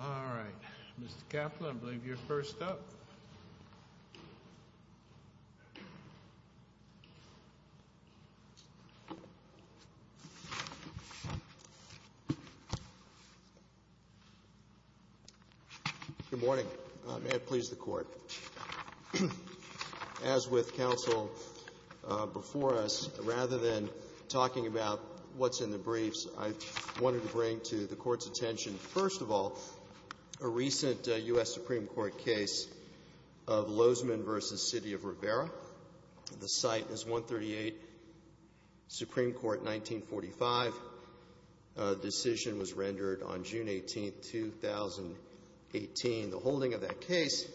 All right. Mr. Kaplan, I believe you're first up. Good morning. May it please the Court. As with counsel before us, rather than talking about what's in the briefs, I wanted to bring to the Court's attention, first of all, a recent U.S. Supreme Court case of Lozeman v. City of Rivera. The site is 138, Supreme Court, 1945. The decision was rendered on June 18, 2018. The holding of that case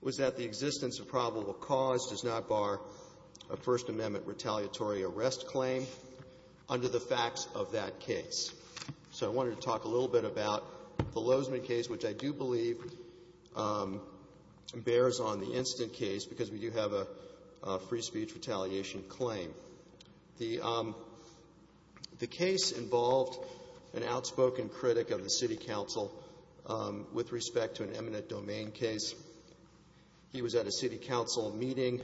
was that the existence of probable cause does not bar a First Amendment retaliatory arrest claim under the facts of that case. So I wanted to talk a little bit about the Lozeman case, which I do believe bears on the instant case because we do have a free speech retaliation claim. The case involved an outspoken critic of the city council with respect to an eminent domain case. He was at a city council meeting.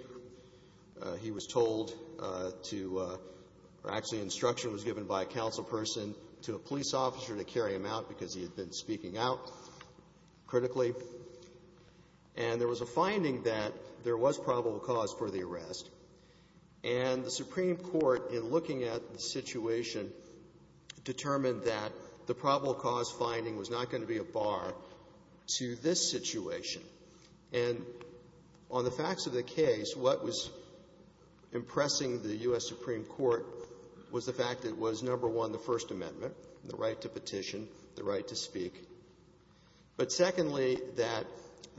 He was told to or actually instruction was given by a councilperson to a police officer to carry him out because he had been speaking out critically. And there was a finding that there was probable cause for the arrest. And the Supreme Court, in looking at the situation, determined that the probable cause finding was not going to be a bar to this situation. And on the facts of the case, what was impressing the U.S. Supreme Court was the fact that it was, number one, the First Amendment, the right to petition, the right to speak. But secondly, that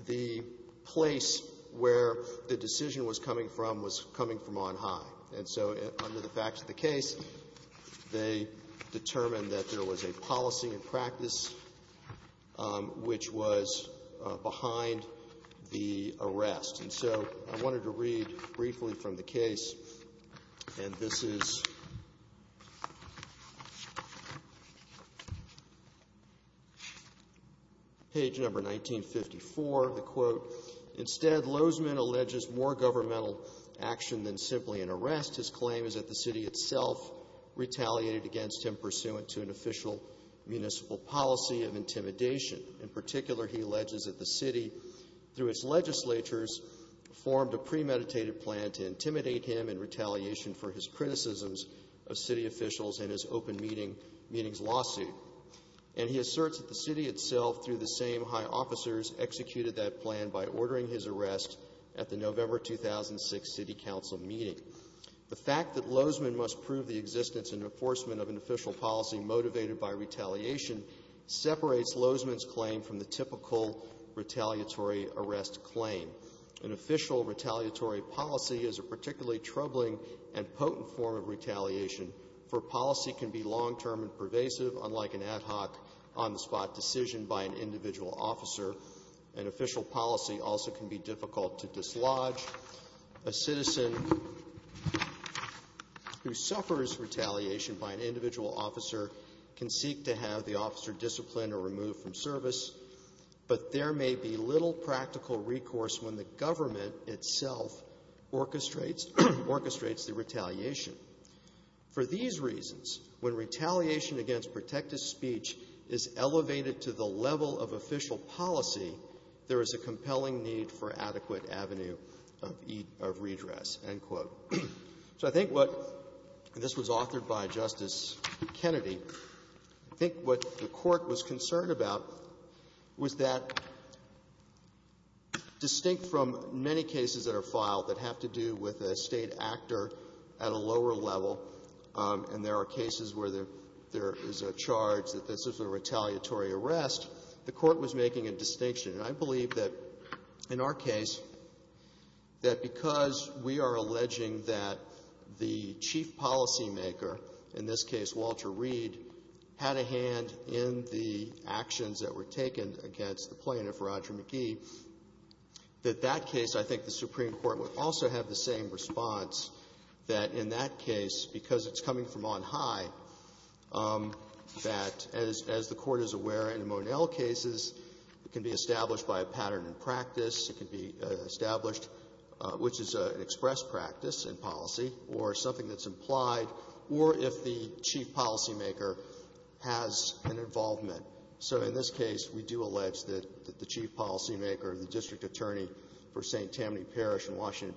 the place where the decision was coming from was coming from on high. And so under the facts of the case, they determined that there was a policy and practice which was behind the arrest. And so I wanted to read briefly from the case, and this is page number 1954. The quote, The fact that Lozman must prove the existence and enforcement of an official policy motivated by retaliation separates Lozman's claim from the typical retaliatory arrest claim. An official retaliatory policy is a particularly troubling and potent form of retaliation, for policy can be long-term and pervasive, unlike an ad hoc, on-the-spot decision by an individual officer. An official policy also can be difficult to dislodge. A citizen who suffers retaliation by an individual officer can seek to have the officer disciplined or removed from service, but there may be little practical recourse when the government itself orchestrates the retaliation. For these reasons, when retaliation against protective speech is elevated to the level of official policy, there is a compelling need for adequate avenue of redress," end quote. So I think what this was authored by Justice Kennedy, I think what the Court was concerned about was that, distinct from many cases that are filed that have to do with a State actor at a lower level, and there are cases where there is a charge that this is a retaliatory arrest, the Court was making a distinction. And I believe that, in our case, that because we are alleging that the chief policymaker, in this case Walter Reed, had a hand in the actions that were taken against the plaintiff, Roger McGee, that that case, I think the Supreme Court would also have the same response, that in that case, because it's coming from on high, that, as the Court is aware in the Monell cases, it can be established by a pattern in practice. It can be established, which is an express practice in policy, or something that's implied, or if the chief policymaker has an involvement. So in this case, we do allege that the chief policymaker, the district attorney for St. Tammany Parish and Washington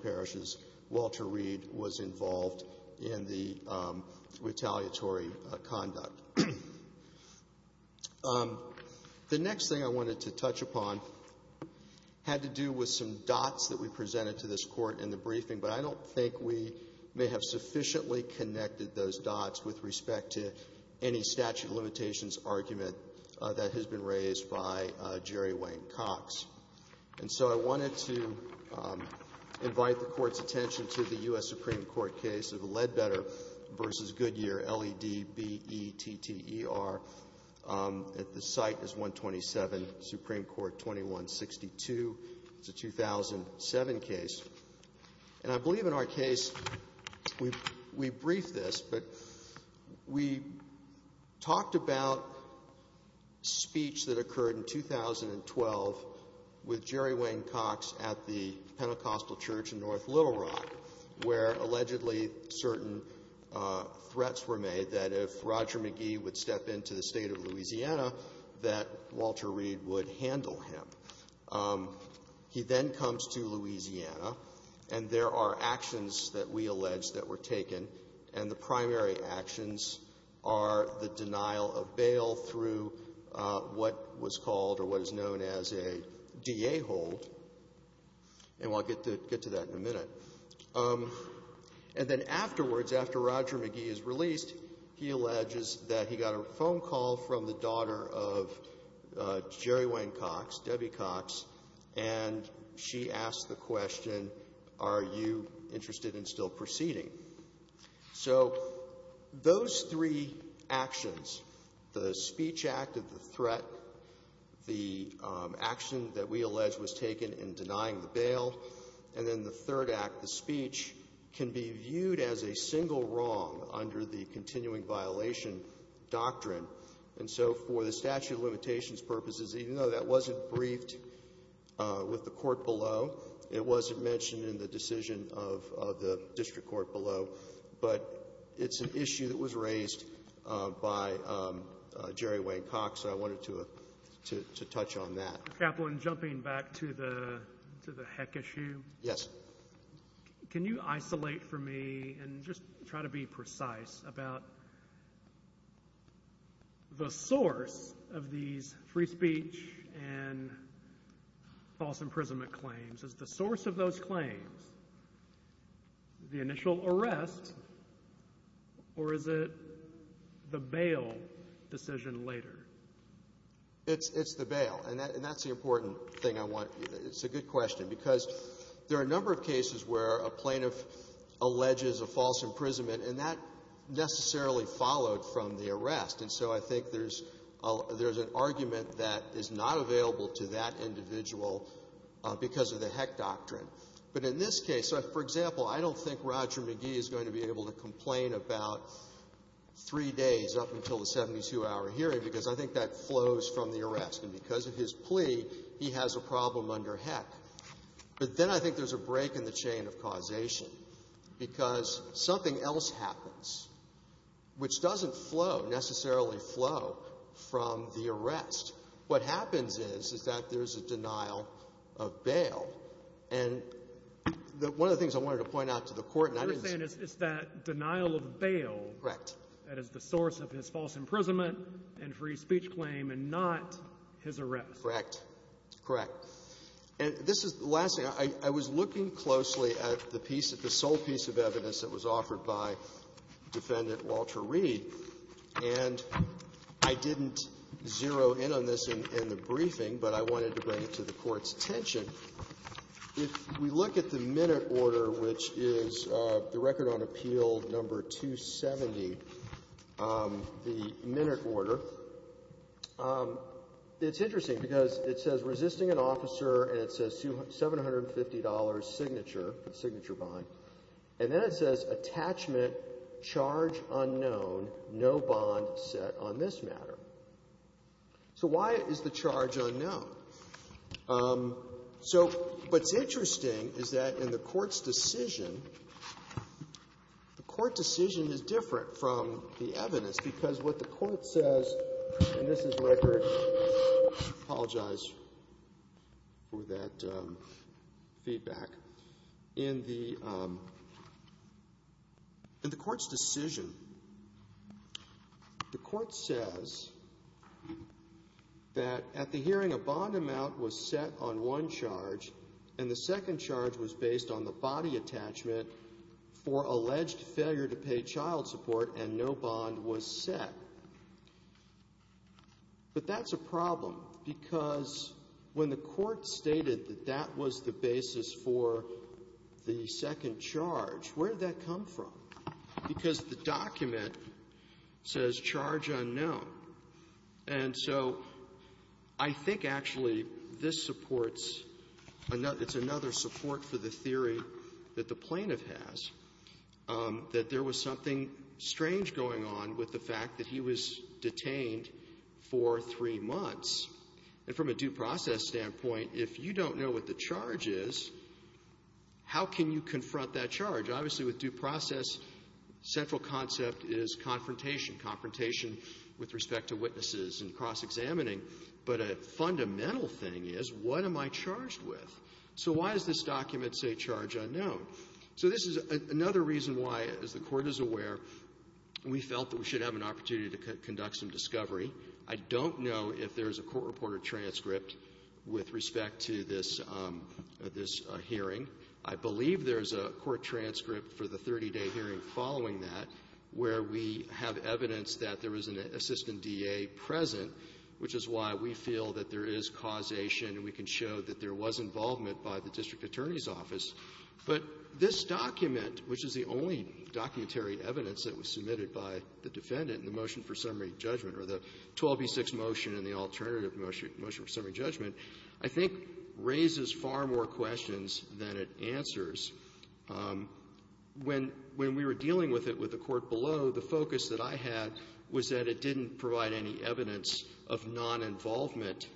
The next thing I wanted to touch upon had to do with some dots that we presented to this Court in the briefing, but I don't think we may have sufficiently connected those dots with respect to any statute of limitations argument that has been raised by Jerry Wayne Cox. And so I wanted to invite the Court's attention to the U.S. Supreme Court's case, which I cite as 127, Supreme Court 2162. It's a 2007 case. And I believe in our case, we briefed this, but we talked about speech that occurred in 2012 with Jerry Wayne Cox at the Pentecostal Church in North Little Rock, where allegedly certain threats were made that if Roger McGee would step into the State of Louisiana, that Walter Reed would handle him. He then comes to Louisiana, and there are actions that we allege that were taken, and the primary actions are the denial of bail through what was called or what is known as a DA hold, and we'll get to that in a minute. And then afterwards, after Roger McGee is released, he alleges that he got a phone call from the daughter of Jerry Wayne Cox, Debbie Cox, and she asks the question, are you interested in still proceeding? So those three actions, the speech act of the threat, the action that we allege was taken in denying the bail, and then the third act, the speech, can be viewed as a single wrong under the continuing violation doctrine. And so for the statute of limitations purposes, even though that wasn't briefed with the court below, it wasn't mentioned in the decision of the district court below, but it's an issue that was raised by Jerry Wayne Cox, so I wanted to touch on that. Mr. Kaplan, jumping back to the heck issue, can you isolate for me and just try to be precise about the source of these free speech and false imprisonment claims? Is the source of those claims the initial arrest, or is it the bail decision later? It's the bail, and that's the important thing I want. It's a good question, because there are a number of cases where a plaintiff alleges a false imprisonment, and that necessarily followed from the arrest, and so I think there's an argument that is not available to that individual because of the heck doctrine. But in this case, for example, I don't think Roger McGee is going to be able to complain about three days up until the 72-hour hearing because I think that flows from the arrest, and because of his plea, he has a problem under heck. But then I think there's a break in the chain of causation because something else happens which doesn't flow, necessarily flow, from the arrest. What happens is, is that there's a denial of bail. And one of the things I wanted to point out to the Court, and I didn't see it. You're saying it's that denial of bail. Correct. That is the source of his false imprisonment and free speech claim and not his arrest. Correct. Correct. And this is the last thing. I was looking closely at the piece, the sole piece of evidence that was offered by Defendant Walter Reed, and I didn't zero in on this in the briefing, but I wanted to bring it to the Court's attention. If we look at the minute order, which is the minute order, it's interesting because it says resisting an officer and it says $750 signature, the signature bond, and then it says attachment, charge unknown, no bond set on this matter. So why is the charge unknown? So what's interesting is that in the Court's decision, the Court decision is different from the evidence because what the Court says, and this is record. I apologize for that feedback. In the Court's decision, the Court says that at the hearing a bond amount was set on one charge and the second charge was based on the body attachment for alleged failure to pay child support and no bond was set. But that's a problem because when the Court stated that that was the basis for the second charge, where did that come from? Because the document says charge unknown. And so I think actually this supports another — it's another support for the theory that the plaintiff has, that there was something strange going on with the fact that he was detained for three months. And from a due process standpoint, if you don't know what the charge is, how can you confront that charge? Obviously, with due process, central concept is confrontation, confrontation with respect to witnesses and cross-examining, but a fundamental thing is, what am I charged with? So why does this document say charge unknown? So this is another reason why, as the Court is aware, we felt that we should have an opportunity to conduct some discovery. I don't know if there's a court reporter transcript with respect to this — this hearing. I believe there's a court transcript for the 30-day hearing following that where we have evidence that there was an assistant DA present, which is why we feel that there is causation and we can show that there was involvement by the district attorney's office. But this document, which is the only documentary evidence that was submitted by the defendant in the motion for summary judgment, or the 12b-6 motion and the alternative motion for summary judgment, I think raises far more questions than it answers. When we were dealing with it with the Court below, the focus that I had was that it didn't provide any evidence of noninvolvement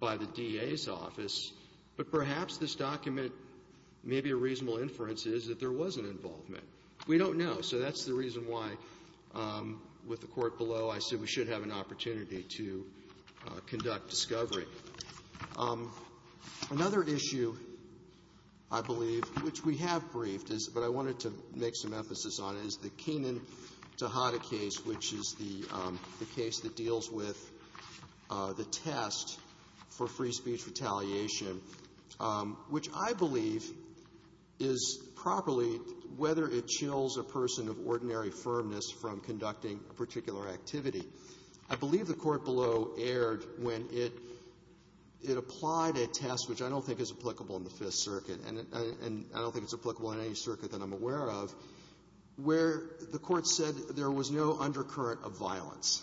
by the DA's office, but perhaps this document, maybe a reasonable inference, is that there was an involvement. We don't know. So that's the reason why, with the Court below, I said we should have an opportunity to conduct discovery. Another issue, I believe, which we have briefed, but I wanted to make some emphasis on, is the Keenan-Tahada case, which is the case that deals with the test for free speech retaliation, which I believe is properly, whether it chills a person of ordinary firmness from conducting a particular activity. I believe the Court below erred when it applied a test which I don't think is applicable in the Fifth Circuit, and I don't think it's applicable in any circuit that I'm aware of, where the Court said there was no undercurrent of violence.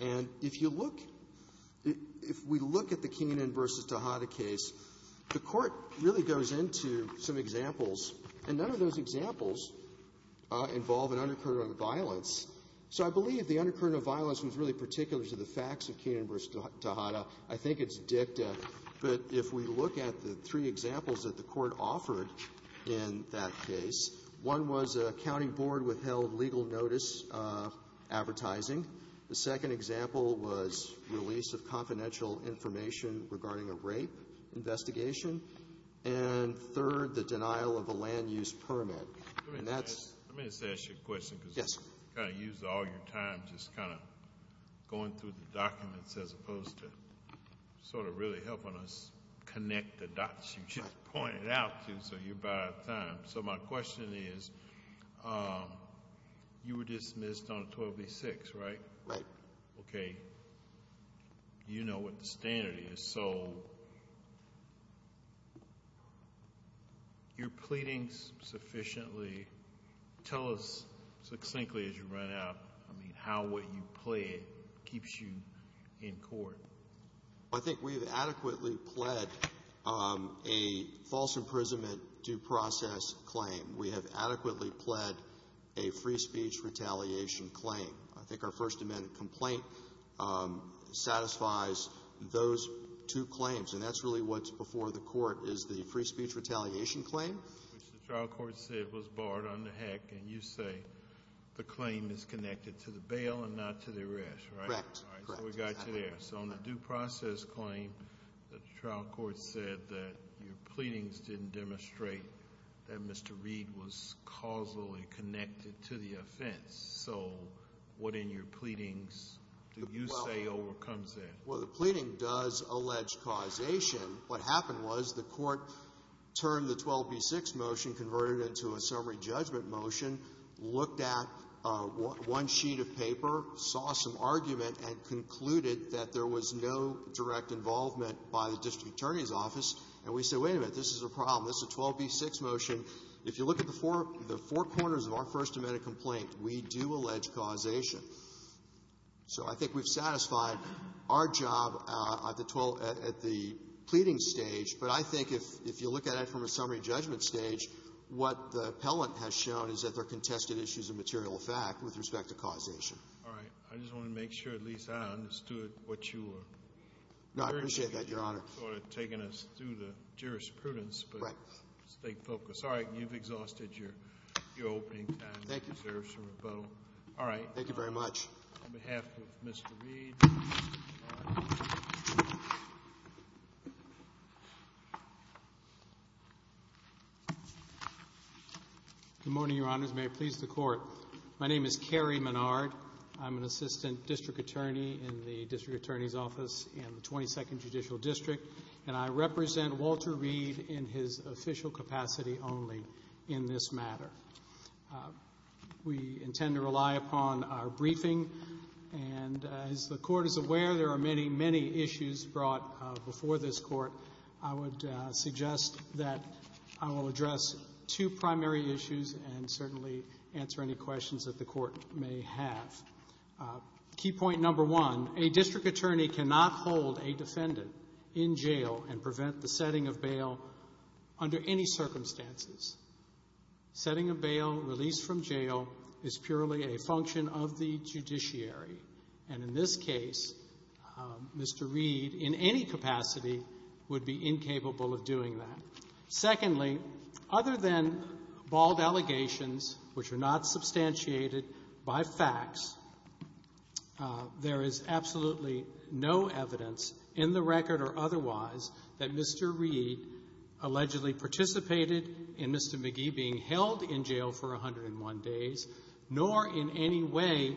And if you look, if we look at the Keenan v. Tahada case, the Court really goes into some examples, and none of those examples involve an undercurrent of violence. So I believe the undercurrent of violence is really particular to the facts of Keenan v. Tahada. I think it's dicta. But if we look at the three examples that the Court offered in that case, one was a county board withheld legal notice advertising. The second example was release of confidential information regarding a rape investigation. And third, the denial of a land-use violation, going through the documents as opposed to sort of really helping us connect the dots you just pointed out to, so you're about out of time. So my question is, you were dismissed on 1286, right? Right. Okay. You know what the standard is. So you're pleading sufficiently, tell us succinctly as you run out, I mean, how would you plead keeps you in court? I think we've adequately pled a false imprisonment due process claim. We have adequately pled a free speech retaliation claim. I think our First Amendment complaint satisfies those two claims, and that's really what's before the Court is the free speech retaliation claim. Which the trial court said was barred under HEC, and you say the claim is connected to the bail and not to the arrest, right? Correct. So we got you there. So on the due process claim, the trial court said that your pleadings didn't demonstrate that Mr. Reed was causally connected to the offense. So what in your pleadings do you say overcomes that? Well, the pleading does allege causation. What happened was the Court turned the 1286 motion, converted it into a summary judgment motion, looked at one sheet of paper, saw some argument, and concluded that there was no direct involvement by the district attorney's office, and we said, wait a minute, this is a problem. This is a 1286 motion. If you look at the four corners of our First Amendment complaint, we do allege causation. So I think we've satisfied our job at the pleading stage, but I think if you look at it from a summary judgment stage, what the appellant has shown is that there are contested issues of material fact with respect to causation. All right. I just want to make sure at least I understood what you were saying. No, I appreciate that, Your Honor. You're sort of taking us through the jurisprudence, but stay focused. All right. You've exhausted your opening time. Thank you. Thank you very much. On behalf of Mr. Reed. Good morning, Your Honors. May it please the Court. My name is Cary Menard. I'm an assistant district attorney in the district attorney's office in the 22nd Judicial District, and I represent Walter Reed in his official capacity only in this matter. We intend to rely upon our briefing, and as the Court is aware, there are many, many issues brought before this Court. I would suggest that I will address two primary issues and certainly answer any questions that the Court may have. Key point number one, a district attorney cannot hold a defendant in jail and prevent the setting of bail, release from jail is purely a function of the judiciary. And in this case, Mr. Reed in any capacity would be incapable of doing that. Secondly, other than bald allegations, which are not substantiated by facts, there is absolutely no evidence in the record or otherwise that Mr. Reed allegedly participated in Mr. McGee being held in jail for 101 days nor in any way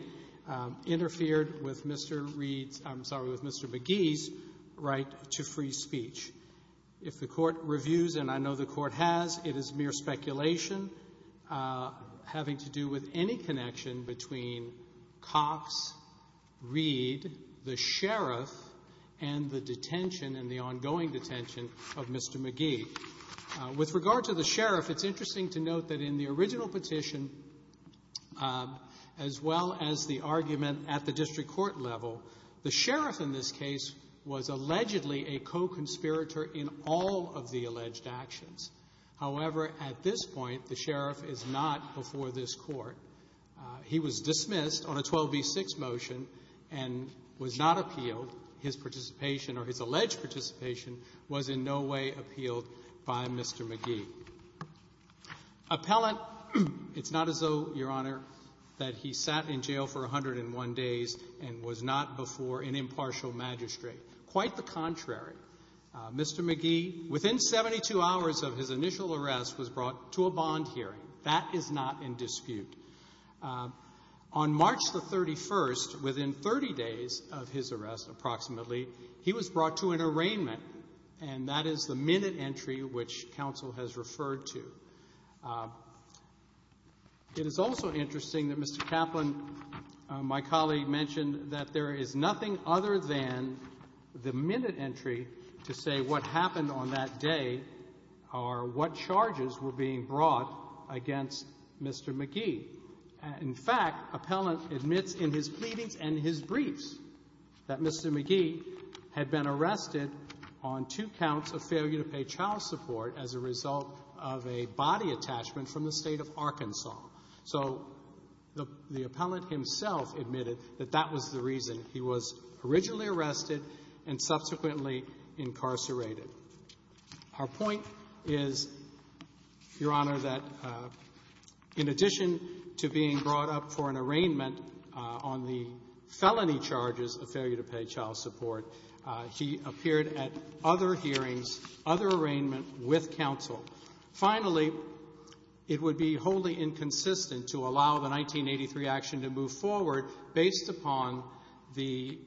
interfered with Mr. Reed's — I'm sorry, with Mr. McGee's right to free speech. If the Court reviews, and I know the Court has, it is mere speculation having to do with any connection between cops, Reed, the sheriff, and the detention and the ongoing detention of Mr. McGee. With regard to the sheriff, it's interesting to note that in the original petition, as well as the argument at the district court level, the sheriff in this case was allegedly a co-conspirator in all of the alleged actions. However, at this point, the sheriff is not before this Court. He was dismissed on a 12b-6 motion and was not appealed. His participation or his alleged participation was in no way appealed by Mr. McGee. Appellant, it's not as though, Your Honor, that he sat in jail for 101 days and was not before an impartial magistrate. Quite the contrary. Mr. McGee, within 72 hours of his initial arrest, was brought to a bond hearing. That is not in dispute. On March the 31st, within 30 days of his arrest approximately, he was brought to an arraignment, and that is the minute entry which counsel has referred to. It is also interesting that Mr. Kaplan, my colleague, mentioned that there is nothing other than the minute entry to say what happened on that day or what charges were being brought against Mr. McGee. In fact, appellant admits in his pleadings and his briefs that Mr. McGee had been arrested on two counts of failure to pay child support as a result of a body attachment from the State of Arkansas. So the appellant himself admitted that that was the reason he was originally arrested and subsequently incarcerated. Our point is, Your Honor, that in addition to being brought up for an arraignment on the felony charges of failure to pay child support, he appeared at other hearings, other arraignments with counsel. Finally, it would be wholly inconsistent to allow the 1983 action to move forward based upon the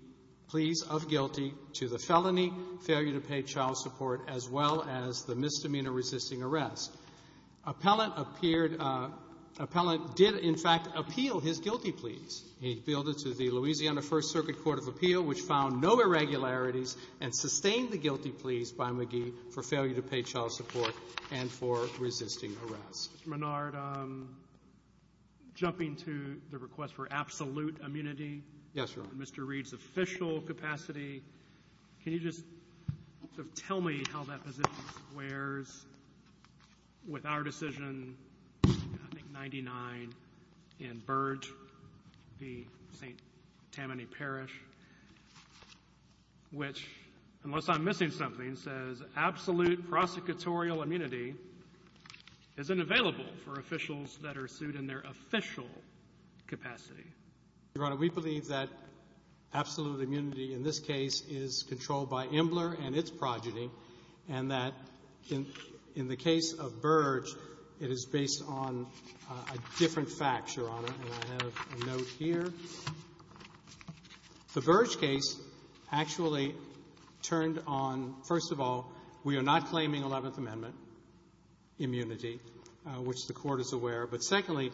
pleas of guilty to the felony, failure to pay child support, as well as the misdemeanor resisting arrest. Appellant appeared — appellant did, in fact, appeal his guilty pleas. He appealed it to the Louisiana First Circuit Court of Appeal, which found no irregularities and sustained the guilty pleas by McGee for failure to pay child support and for resisting arrest. Mr. Menard, jumping to the request for absolute immunity. Yes, Your Honor. In Mr. Reed's official capacity, can you just tell me how that position squares with our decision, I think, 99 in Burdge v. St. Tammany Parish, which, unless I'm missing something, says absolute prosecutorial immunity isn't available for officials that are sued in their official capacity? Your Honor, we believe that absolute immunity in this case is controlled by Imbler and its progeny, and that in the case of Burdge, it is based on a different fact, Your Honor. And I have a note here. The Burdge case actually turned on, first of all, we are not claiming Eleventh Amendment immunity, which the Court is aware of. But secondly,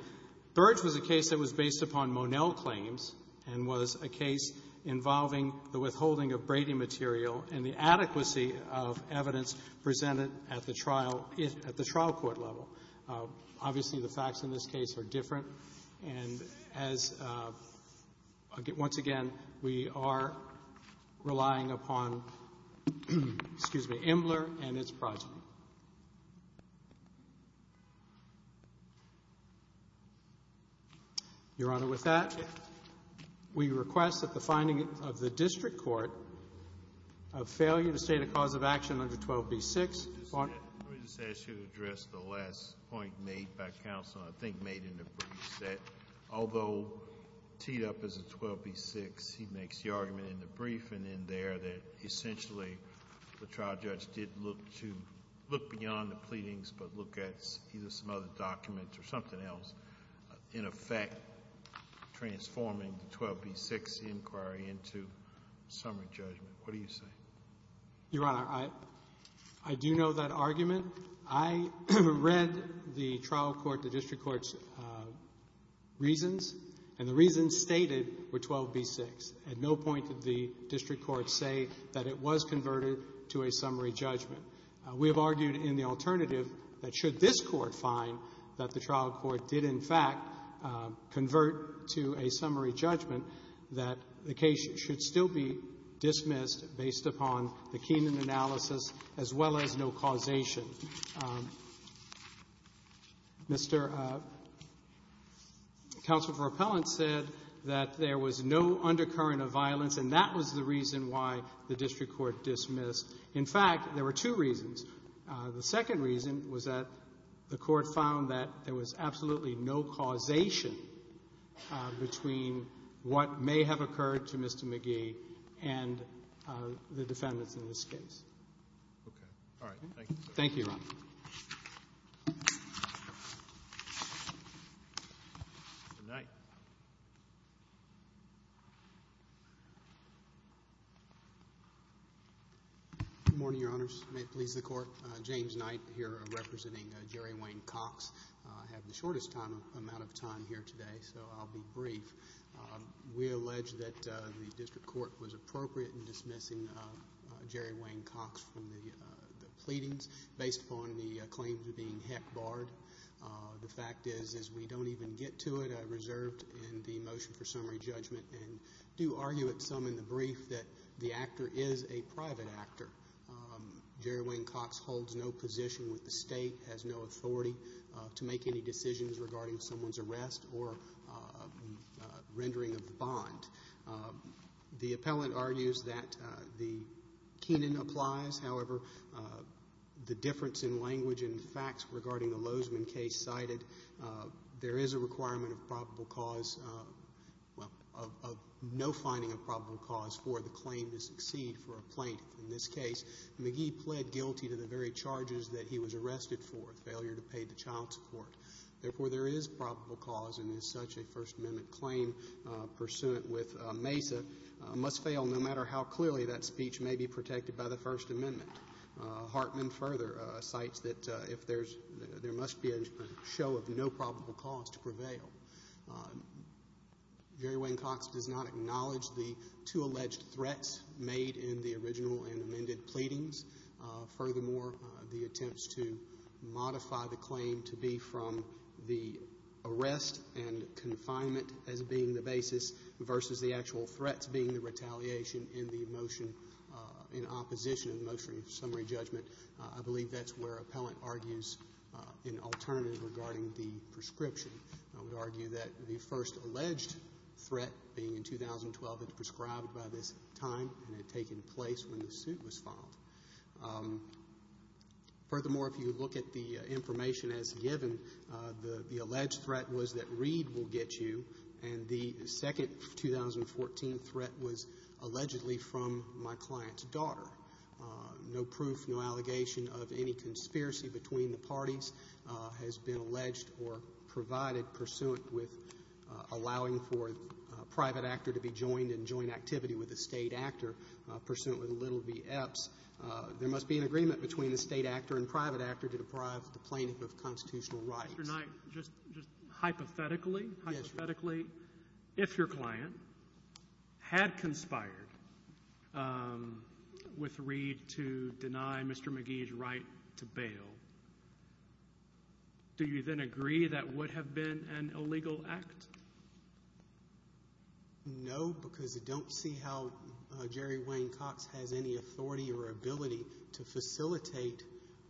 Burdge was a case that was based upon Monel claims and was a case involving the withholding of Brady material and the adequacy of evidence presented at the trial court level. Obviously, the facts in this case are different. And as, once again, we are relying upon, excuse me, Imbler and its progeny. Your Honor, with that, we request that the finding of the district court of failure to state a cause of action under 12b-6. Let me just ask you to address the last point made by counsel, I think made in the brief, that although teed up as a 12b-6, he makes the argument in the brief and in there that essentially the trial judge did look to look beyond the pleadings but look at either some other documents or something else, in effect transforming the 12b-6 inquiry into summary judgment. What do you say? Your Honor, I do know that argument. I read the trial court, the district court's reasons, and the reasons stated were 12b-6. At no point did the district court say that it was converted to a summary judgment. We have argued in the alternative that should this Court find that the trial court did, in fact, convert to a summary judgment, that the case should still be dismissed based upon the Keenan analysis as well as no causation. Mr. Counsel for Appellant said that there was no undercurrent of violence, and that was the reason why the district court dismissed. In fact, there were two reasons. The second reason was that the Court found that there was absolutely no causation between what may have occurred to Mr. McGee and the defendants in this case. Okay. All right. Thank you. Thank you, Your Honor. Mr. Knight. Good morning, Your Honors. May it please the Court. James Knight here representing Jerry Wayne Cox. I have the shortest amount of time here today, so I'll be brief. We allege that the district court was appropriate in dismissing Jerry Wayne Cox from the pleadings based upon the claims of being heck barred. The fact is, as we don't even get to it, I reserved in the motion for summary judgment and do argue at some in the brief that the actor is a private actor. Jerry Wayne Cox holds no position with the State, has no authority to make any decisions regarding someone's arrest or rendering of the bond. The appellant argues that the Keenan applies. However, the difference in language and facts regarding the Lozman case cited, there is a requirement of probable cause of no finding of probable cause for the claim to succeed for a plaintiff in this case. McGee pled guilty to the very charges that he was arrested for, failure to pay the child support. Therefore, there is probable cause and is such a First Amendment claim pursuant with Mesa, must fail no matter how clearly that speech may be protected by the First Amendment. Hartman further cites that there must be a show of no probable cause to prevail. Jerry Wayne Cox does not acknowledge the two alleged threats made in the original and amended pleadings. Furthermore, the attempts to modify the claim to be from the arrest and confinement as being the basis versus the actual threats being the retaliation in the motion in opposition of the motion of summary judgment, I believe that's where appellant argues an alternative regarding the prescription. I would argue that the first alleged threat being in 2012, it's prescribed by this time and it had taken place when the suit was filed. Furthermore, if you look at the information as given, the alleged threat was that Reed will get you, and the second 2014 threat was allegedly from my client's daughter. No proof, no allegation of any conspiracy between the parties has been alleged or provided pursuant with allowing for a private actor to be joined in joint activity with a State actor pursuant with Little v. Epps. There must be an agreement between the State actor and private actor to deprive the plaintiff of constitutional rights. Mr. Knight, just hypothetically, hypothetically, if your client had conspired with Reed to deny Mr. McGee's right to bail, do you then agree that would have been an illegal act? No, because I don't see how Jerry Wayne Cox has any authority or ability to facilitate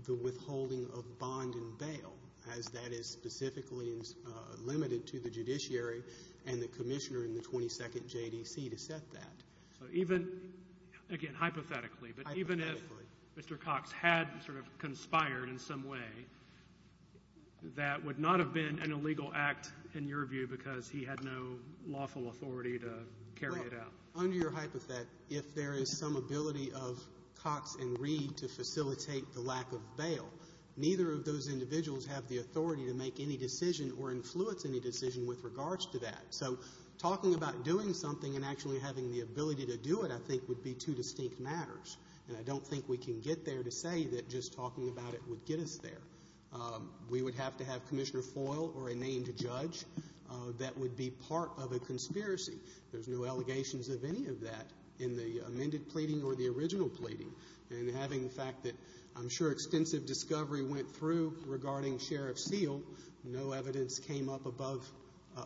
the withholding of bond and bail, as that is specifically limited to the judiciary and the commissioner in the 22nd JDC to set that. So even, again, hypothetically, but even if Mr. Cox had sort of conspired in some way, that would not have been an illegal act in your view because he had no lawful authority to carry it out. Under your hypothetic, if there is some ability of Cox and Reed to facilitate the lack of bail, neither of those individuals have the authority to make any decision or influence any decision with regards to that. So talking about doing something and actually having the ability to do it, I think, would be two distinct matters, and I don't think we can get there to say that just talking about it would get us there. We would have to have Commissioner Foyle or a named judge that would be part of a conspiracy. There's no allegations of any of that in the amended pleading or the original pleading. And having the fact that I'm sure extensive discovery went through regarding Sheriff Seale, no evidence came up above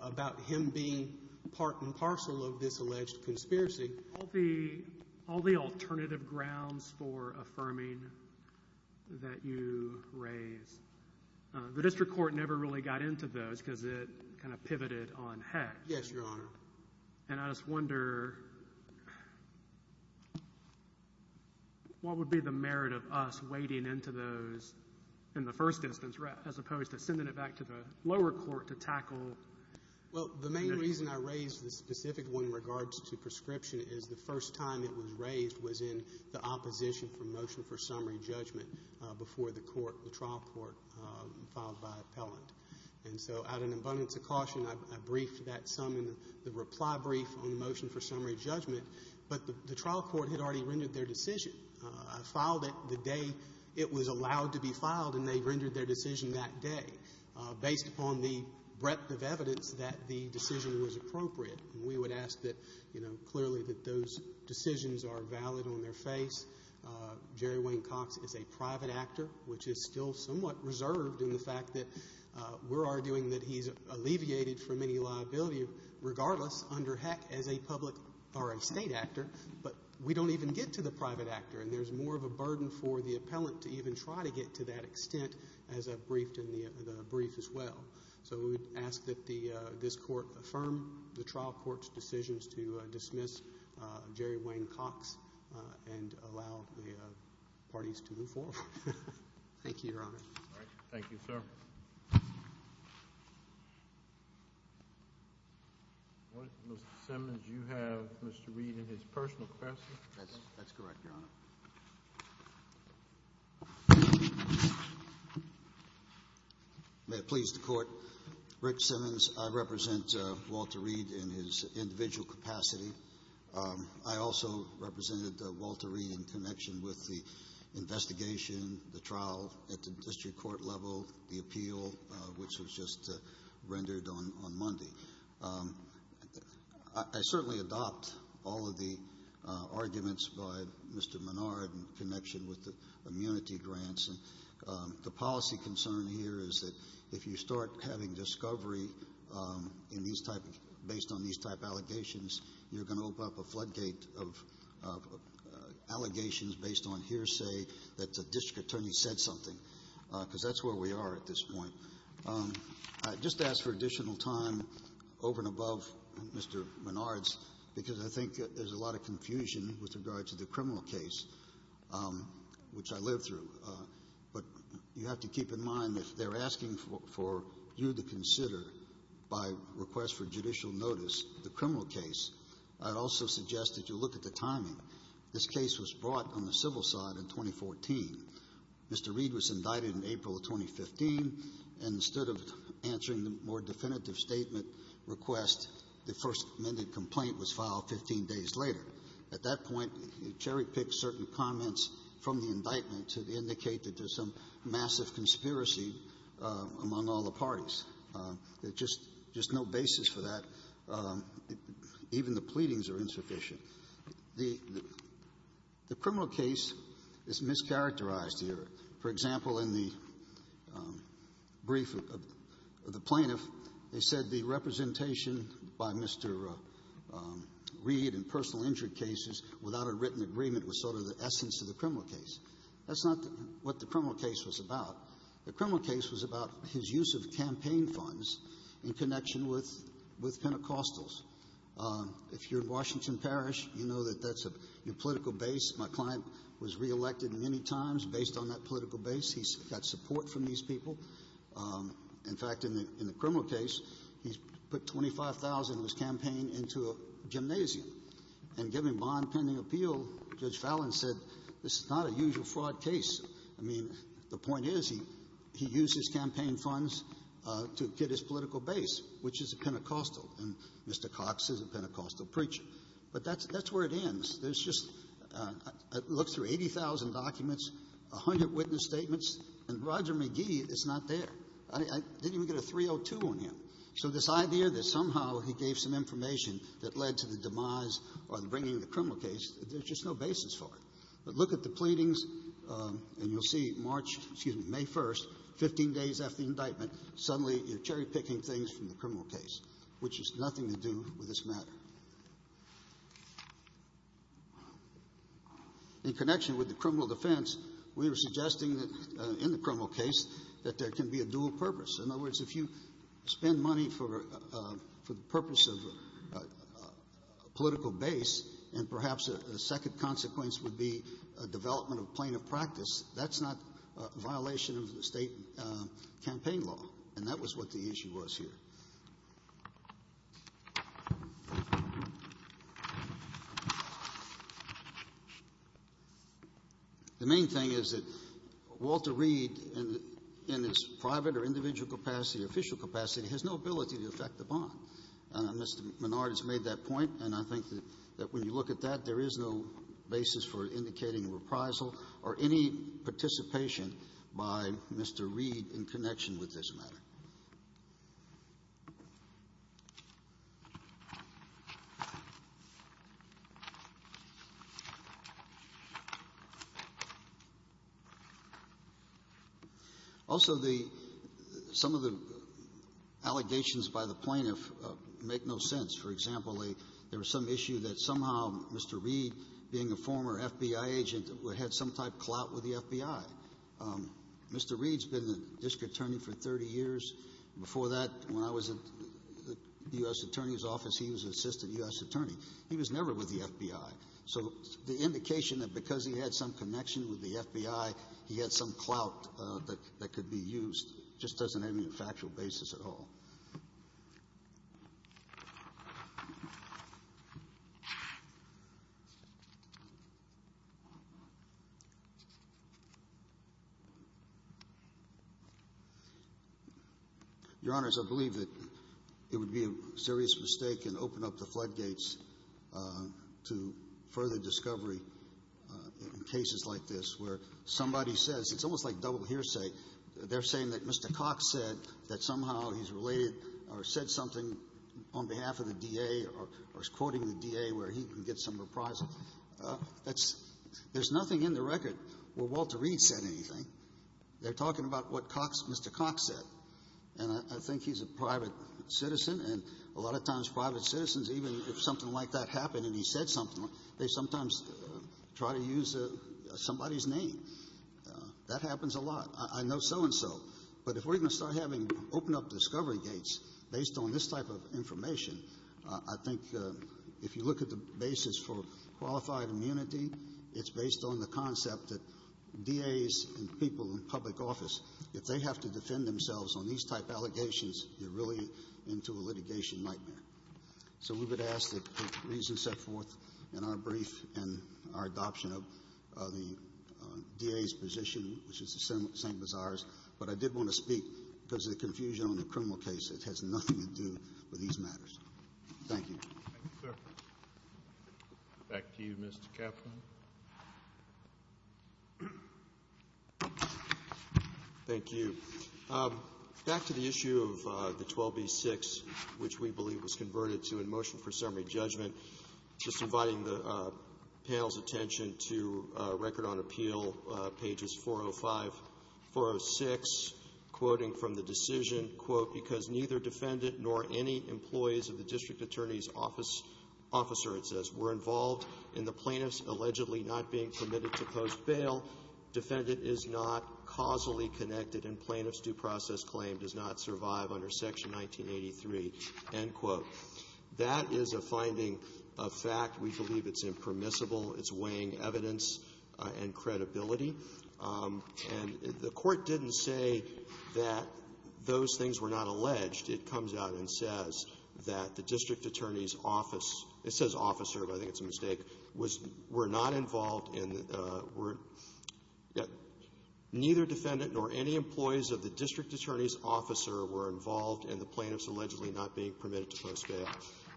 about him being part and parcel of this alleged conspiracy. All the alternative grounds for affirming that you raise, the district court never really got into those because it kind of pivoted on Hecht. Yes, Your Honor. And I just wonder what would be the merit of us wading into those in the first instance, as opposed to sending it back to the lower court to tackle? Well, the main reason I raised this specific one in regards to prescription is the first time it was raised was in the opposition for motion for summary judgment before the trial court filed by appellant. And so out of an abundance of caution, I briefed that some in the reply brief on the motion for summary judgment. But the trial court had already rendered their decision. I filed it the day it was allowed to be filed, and they rendered their decision that day, based upon the breadth of evidence that the decision was appropriate. And we would ask that, you know, clearly that those decisions are valid on their face. Jerry Wayne Cox is a private actor, which is still somewhat reserved in the fact that we're arguing that he's alleviated from any liability, regardless under Hecht as a public or a state actor. But we don't even get to the private actor, and there's more of a burden for the appellant to even try to get to that extent as I briefed in the brief as well. So we would ask that this court affirm the trial court's decisions to dismiss Jerry Wayne Cox and allow the parties to move forward. Thank you, Your Honor. Thank you, sir. Mr. Simmons, you have Mr. Reed and his personal questions. That's correct, Your Honor. May it please the Court. Rick Simmons, I represent Walter Reed in his individual capacity. I also represented Walter Reed in connection with the investigation, the trial at the district court level, the appeal, which was just rendered on Monday. I certainly adopt all of the arguments by Mr. Menard in connection with the immunity grants. The policy concern here is that if you start having discovery based on these type allegations, you're going to open up a floodgate of allegations based on hearsay that the district attorney said something, because that's where we are at this point. I just ask for additional time over and above Mr. Menard's because I think there's a lot of confusion with regard to the criminal case, which I lived through. But you have to keep in mind if they're asking for you to consider, by request for judicial notice, the criminal case, I'd also suggest that you look at the timing. This case was brought on the civil side in 2014. Mr. Reed was indicted in April of 2015, and instead of answering the more definitive statement request, the first amended complaint was filed 15 days later. At that point, cherry-pick certain comments from the indictment to indicate that there's some massive conspiracy among all the parties. There's just no basis for that. Even the pleadings are insufficient. The criminal case is mischaracterized here. For example, in the brief of the plaintiff, they said the representation by Mr. Reed in personal injury cases without a written agreement was sort of the essence of the criminal case. That's not what the criminal case was about. The criminal case was about his use of campaign funds in connection with Pentecostals. If you're in Washington Parish, you know that that's a new political base. My client was reelected many times based on that political base. He's got support from these people. In fact, in the criminal case, he's put $25,000 in his campaign into a gymnasium, and given bond-pending appeal, Judge Fallin said this is not a usual fraud case. I mean, the point is he used his campaign funds to get his political base, which is a Pentecostal, and Mr. Cox is a Pentecostal preacher. But that's where it ends. There's just a look through 80,000 documents, a hundred witness statements, and Roger McGee is not there. I didn't even get a 302 on him. So this idea that somehow he gave some information that led to the demise or bringing the criminal case, there's just no basis for it. But look at the pleadings, and you'll see March, excuse me, May 1st, 15 days after the indictment, suddenly you're cherry picking a criminal case, which has nothing to do with this matter. In connection with the criminal defense, we were suggesting that in the criminal case that there can be a dual purpose. In other words, if you spend money for the purpose of a political base, and perhaps a second consequence would be a development of plaintiff practice, that's not a matter. The main thing is that Walter Reed, in his private or individual capacity or official capacity, has no ability to affect the bond. And Mr. Menard has made that point, and I think that when you look at that, there is no basis for indicating reprisal or any participation by Mr. Reed in connection with this matter. Also, the — some of the allegations by the plaintiff make no sense. For example, there was some issue that somehow Mr. Reed, being a former FBI agent, had some type of clout with the FBI. Mr. Reed's been the district attorney for 30 years. Before that, when I was in the U.S. attorney's office, he was an assistant U.S. attorney. He was never with the FBI. So the indication that because he had some connection with the FBI, he had some at all. Your Honors, I believe that it would be a serious mistake and open up the floodgates to further discovery in cases like this, where somebody says — it's almost like he's related or said something on behalf of the D.A. or is quoting the D.A. where he can get some reprisal. That's — there's nothing in the record where Walter Reed said anything. They're talking about what Cox — Mr. Cox said. And I think he's a private citizen, and a lot of times private citizens, even if something like that happened and he said something, they sometimes try to use somebody's name. That happens a lot. I know so-and-so. But if we're going to start having — open up discovery gates based on this type of information, I think if you look at the basis for qualified immunity, it's based on the concept that D.A.s and people in public office, if they have to defend themselves on these type allegations, you're really into a litigation nightmare. So we would ask that the reasons set forth in our brief and our adoption of the D.A.'s position, which is the same as ours, but I did want to speak because the confusion on the criminal case, it has nothing to do with these matters. Thank you. Thank you, sir. Back to you, Mr. Kaplan. Thank you. Back to the issue of the 12B-6, which we believe was converted to a motion for summary pages 405, 406, quoting from the decision, quote, because neither defendant nor any employees of the district attorney's office — officer, it says, were involved in the plaintiff's allegedly not being permitted to post bail. Defendant is not causally connected and plaintiff's due process claim does not survive under Section 1983, end quote. That is a finding of fact. We believe it's impermissible. It's weighing evidence and credibility. And the Court didn't say that those things were not alleged. It comes out and says that the district attorney's office — it says officer, but I think it's a mistake — was — were not involved in the — were — neither defendant nor any employees of the district attorney's officer were involved in the plaintiff's allegedly not being permitted to post bail.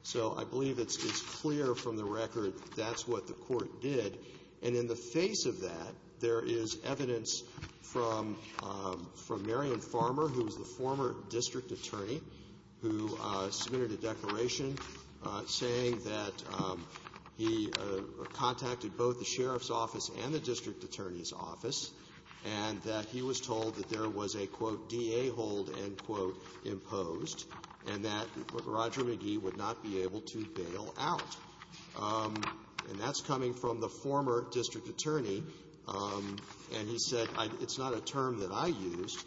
So I believe it's clear from the record that that's what the Court did. And in the face of that, there is evidence from — from Marion Farmer, who was the former district attorney, who submitted a declaration saying that he contacted both the sheriff's office and the district attorney's office and that he was told that there was a, quote, DA hold, end quote, imposed, and that Roger McGee would not be able to bail out. And that's coming from the former district attorney. And he said, it's not a term that I used,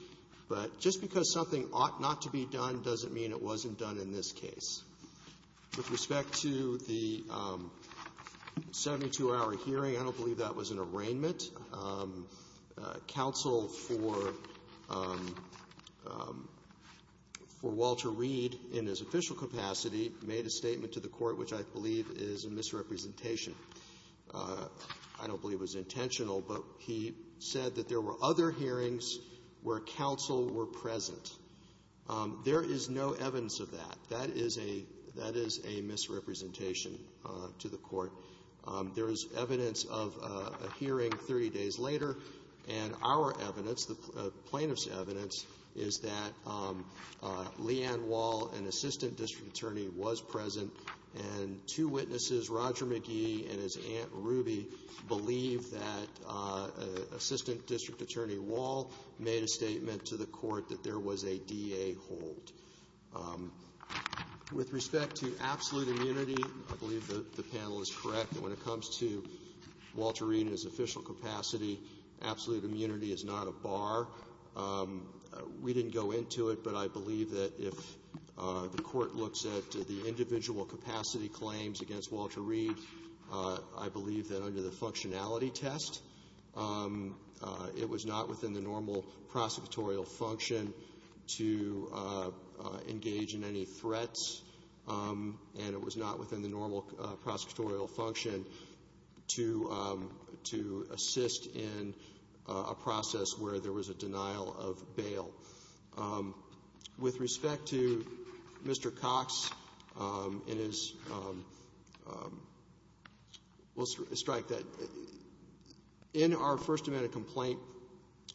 but just because something ought not to be done doesn't mean it wasn't done in this case. With respect to the 72-hour hearing, I don't believe that was an arraignment. Counsel for — for Walter Reed in his official capacity made a statement to the Court which I believe is a misrepresentation. I don't believe it was intentional, but he said that there were other hearings where counsel were present. There is no evidence of that. That is a — that is a misrepresentation to the Court. There is evidence of a hearing 30 days later, and our evidence, the plaintiff's evidence, is that Leanne Wall, an assistant district attorney, was present, and two witnesses, Roger McGee and his aunt Ruby, believe that assistant district attorney Wall made a statement to the Court that there was a DA hold. With respect to absolute immunity, I believe the panel is correct that when it comes to Walter Reed in his official capacity, absolute immunity is not a bar. We didn't go into it, but I believe that if the Court looks at the individual capacity claims against Walter Reed, I believe that under the functionality test, it was not within the normal prosecutorial function to engage in any threats, and it was not within the normal prosecutorial function to — to assist in a process where there was a denial of bail. With respect to Mr. Cox and his — we'll strike that in our first amendment complaint,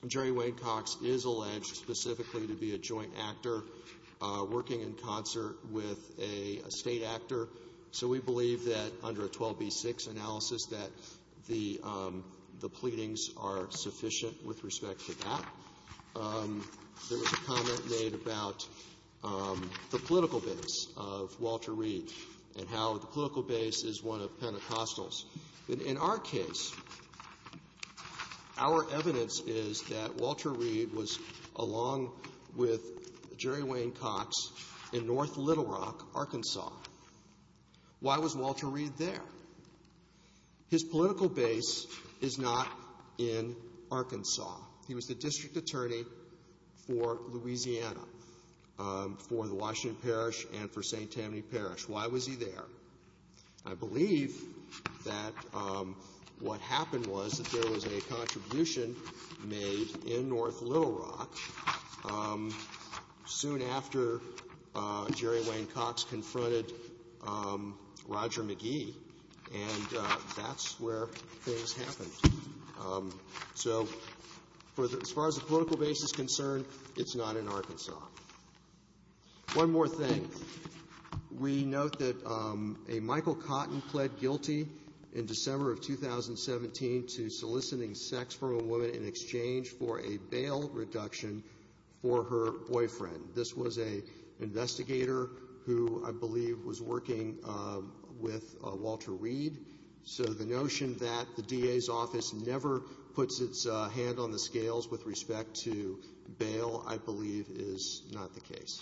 Jerry Wayne Cox is alleged specifically to be a joint actor working in concert with a State actor, so we believe that under a 12b-6 analysis that the — the pleadings are sufficient with respect to that. There was a comment made about the political base of Walter Reed and how the political base is one of Pentecostals. In our case, our evidence is that Walter Reed was, along with Jerry Wayne Cox, in North Little Rock, Arkansas. Why was Walter Reed there? His political base is not in Arkansas. He was the district attorney for Louisiana, for the Washington Parish and for St. Tammany Parish. Why was he there? I believe that what happened was that there was a contribution made in North Little Rock where Jerry Wayne Cox confronted Roger McGee, and that's where things happened. So as far as the political base is concerned, it's not in Arkansas. One more thing. We note that a Michael Cotton pled guilty in December of 2017 to soliciting sex from a woman in exchange for a bail reduction for her boyfriend. This was an investigator who, I believe, was working with Walter Reed, so the notion that the DA's office never puts its hand on the scales with respect to bail, I believe, is not the case.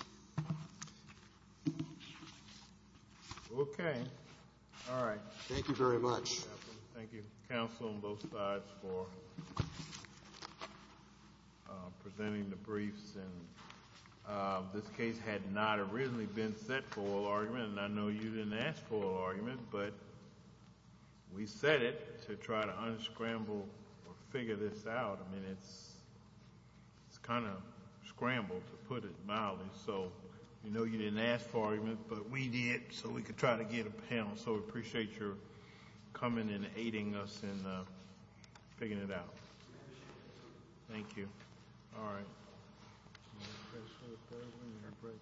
Okay. All right. Thank you very much. Thank you, counsel on both sides, for presenting the briefs. This case had not originally been set for oral argument, and I know you didn't ask for oral argument, but we set it to try to unscramble or figure this out. I mean, it's kind of scrambled, to put it mildly. So we know you didn't ask for argument, but we did so we could try to get a panel. So we appreciate your coming and aiding us in figuring it out. Thank you. All right.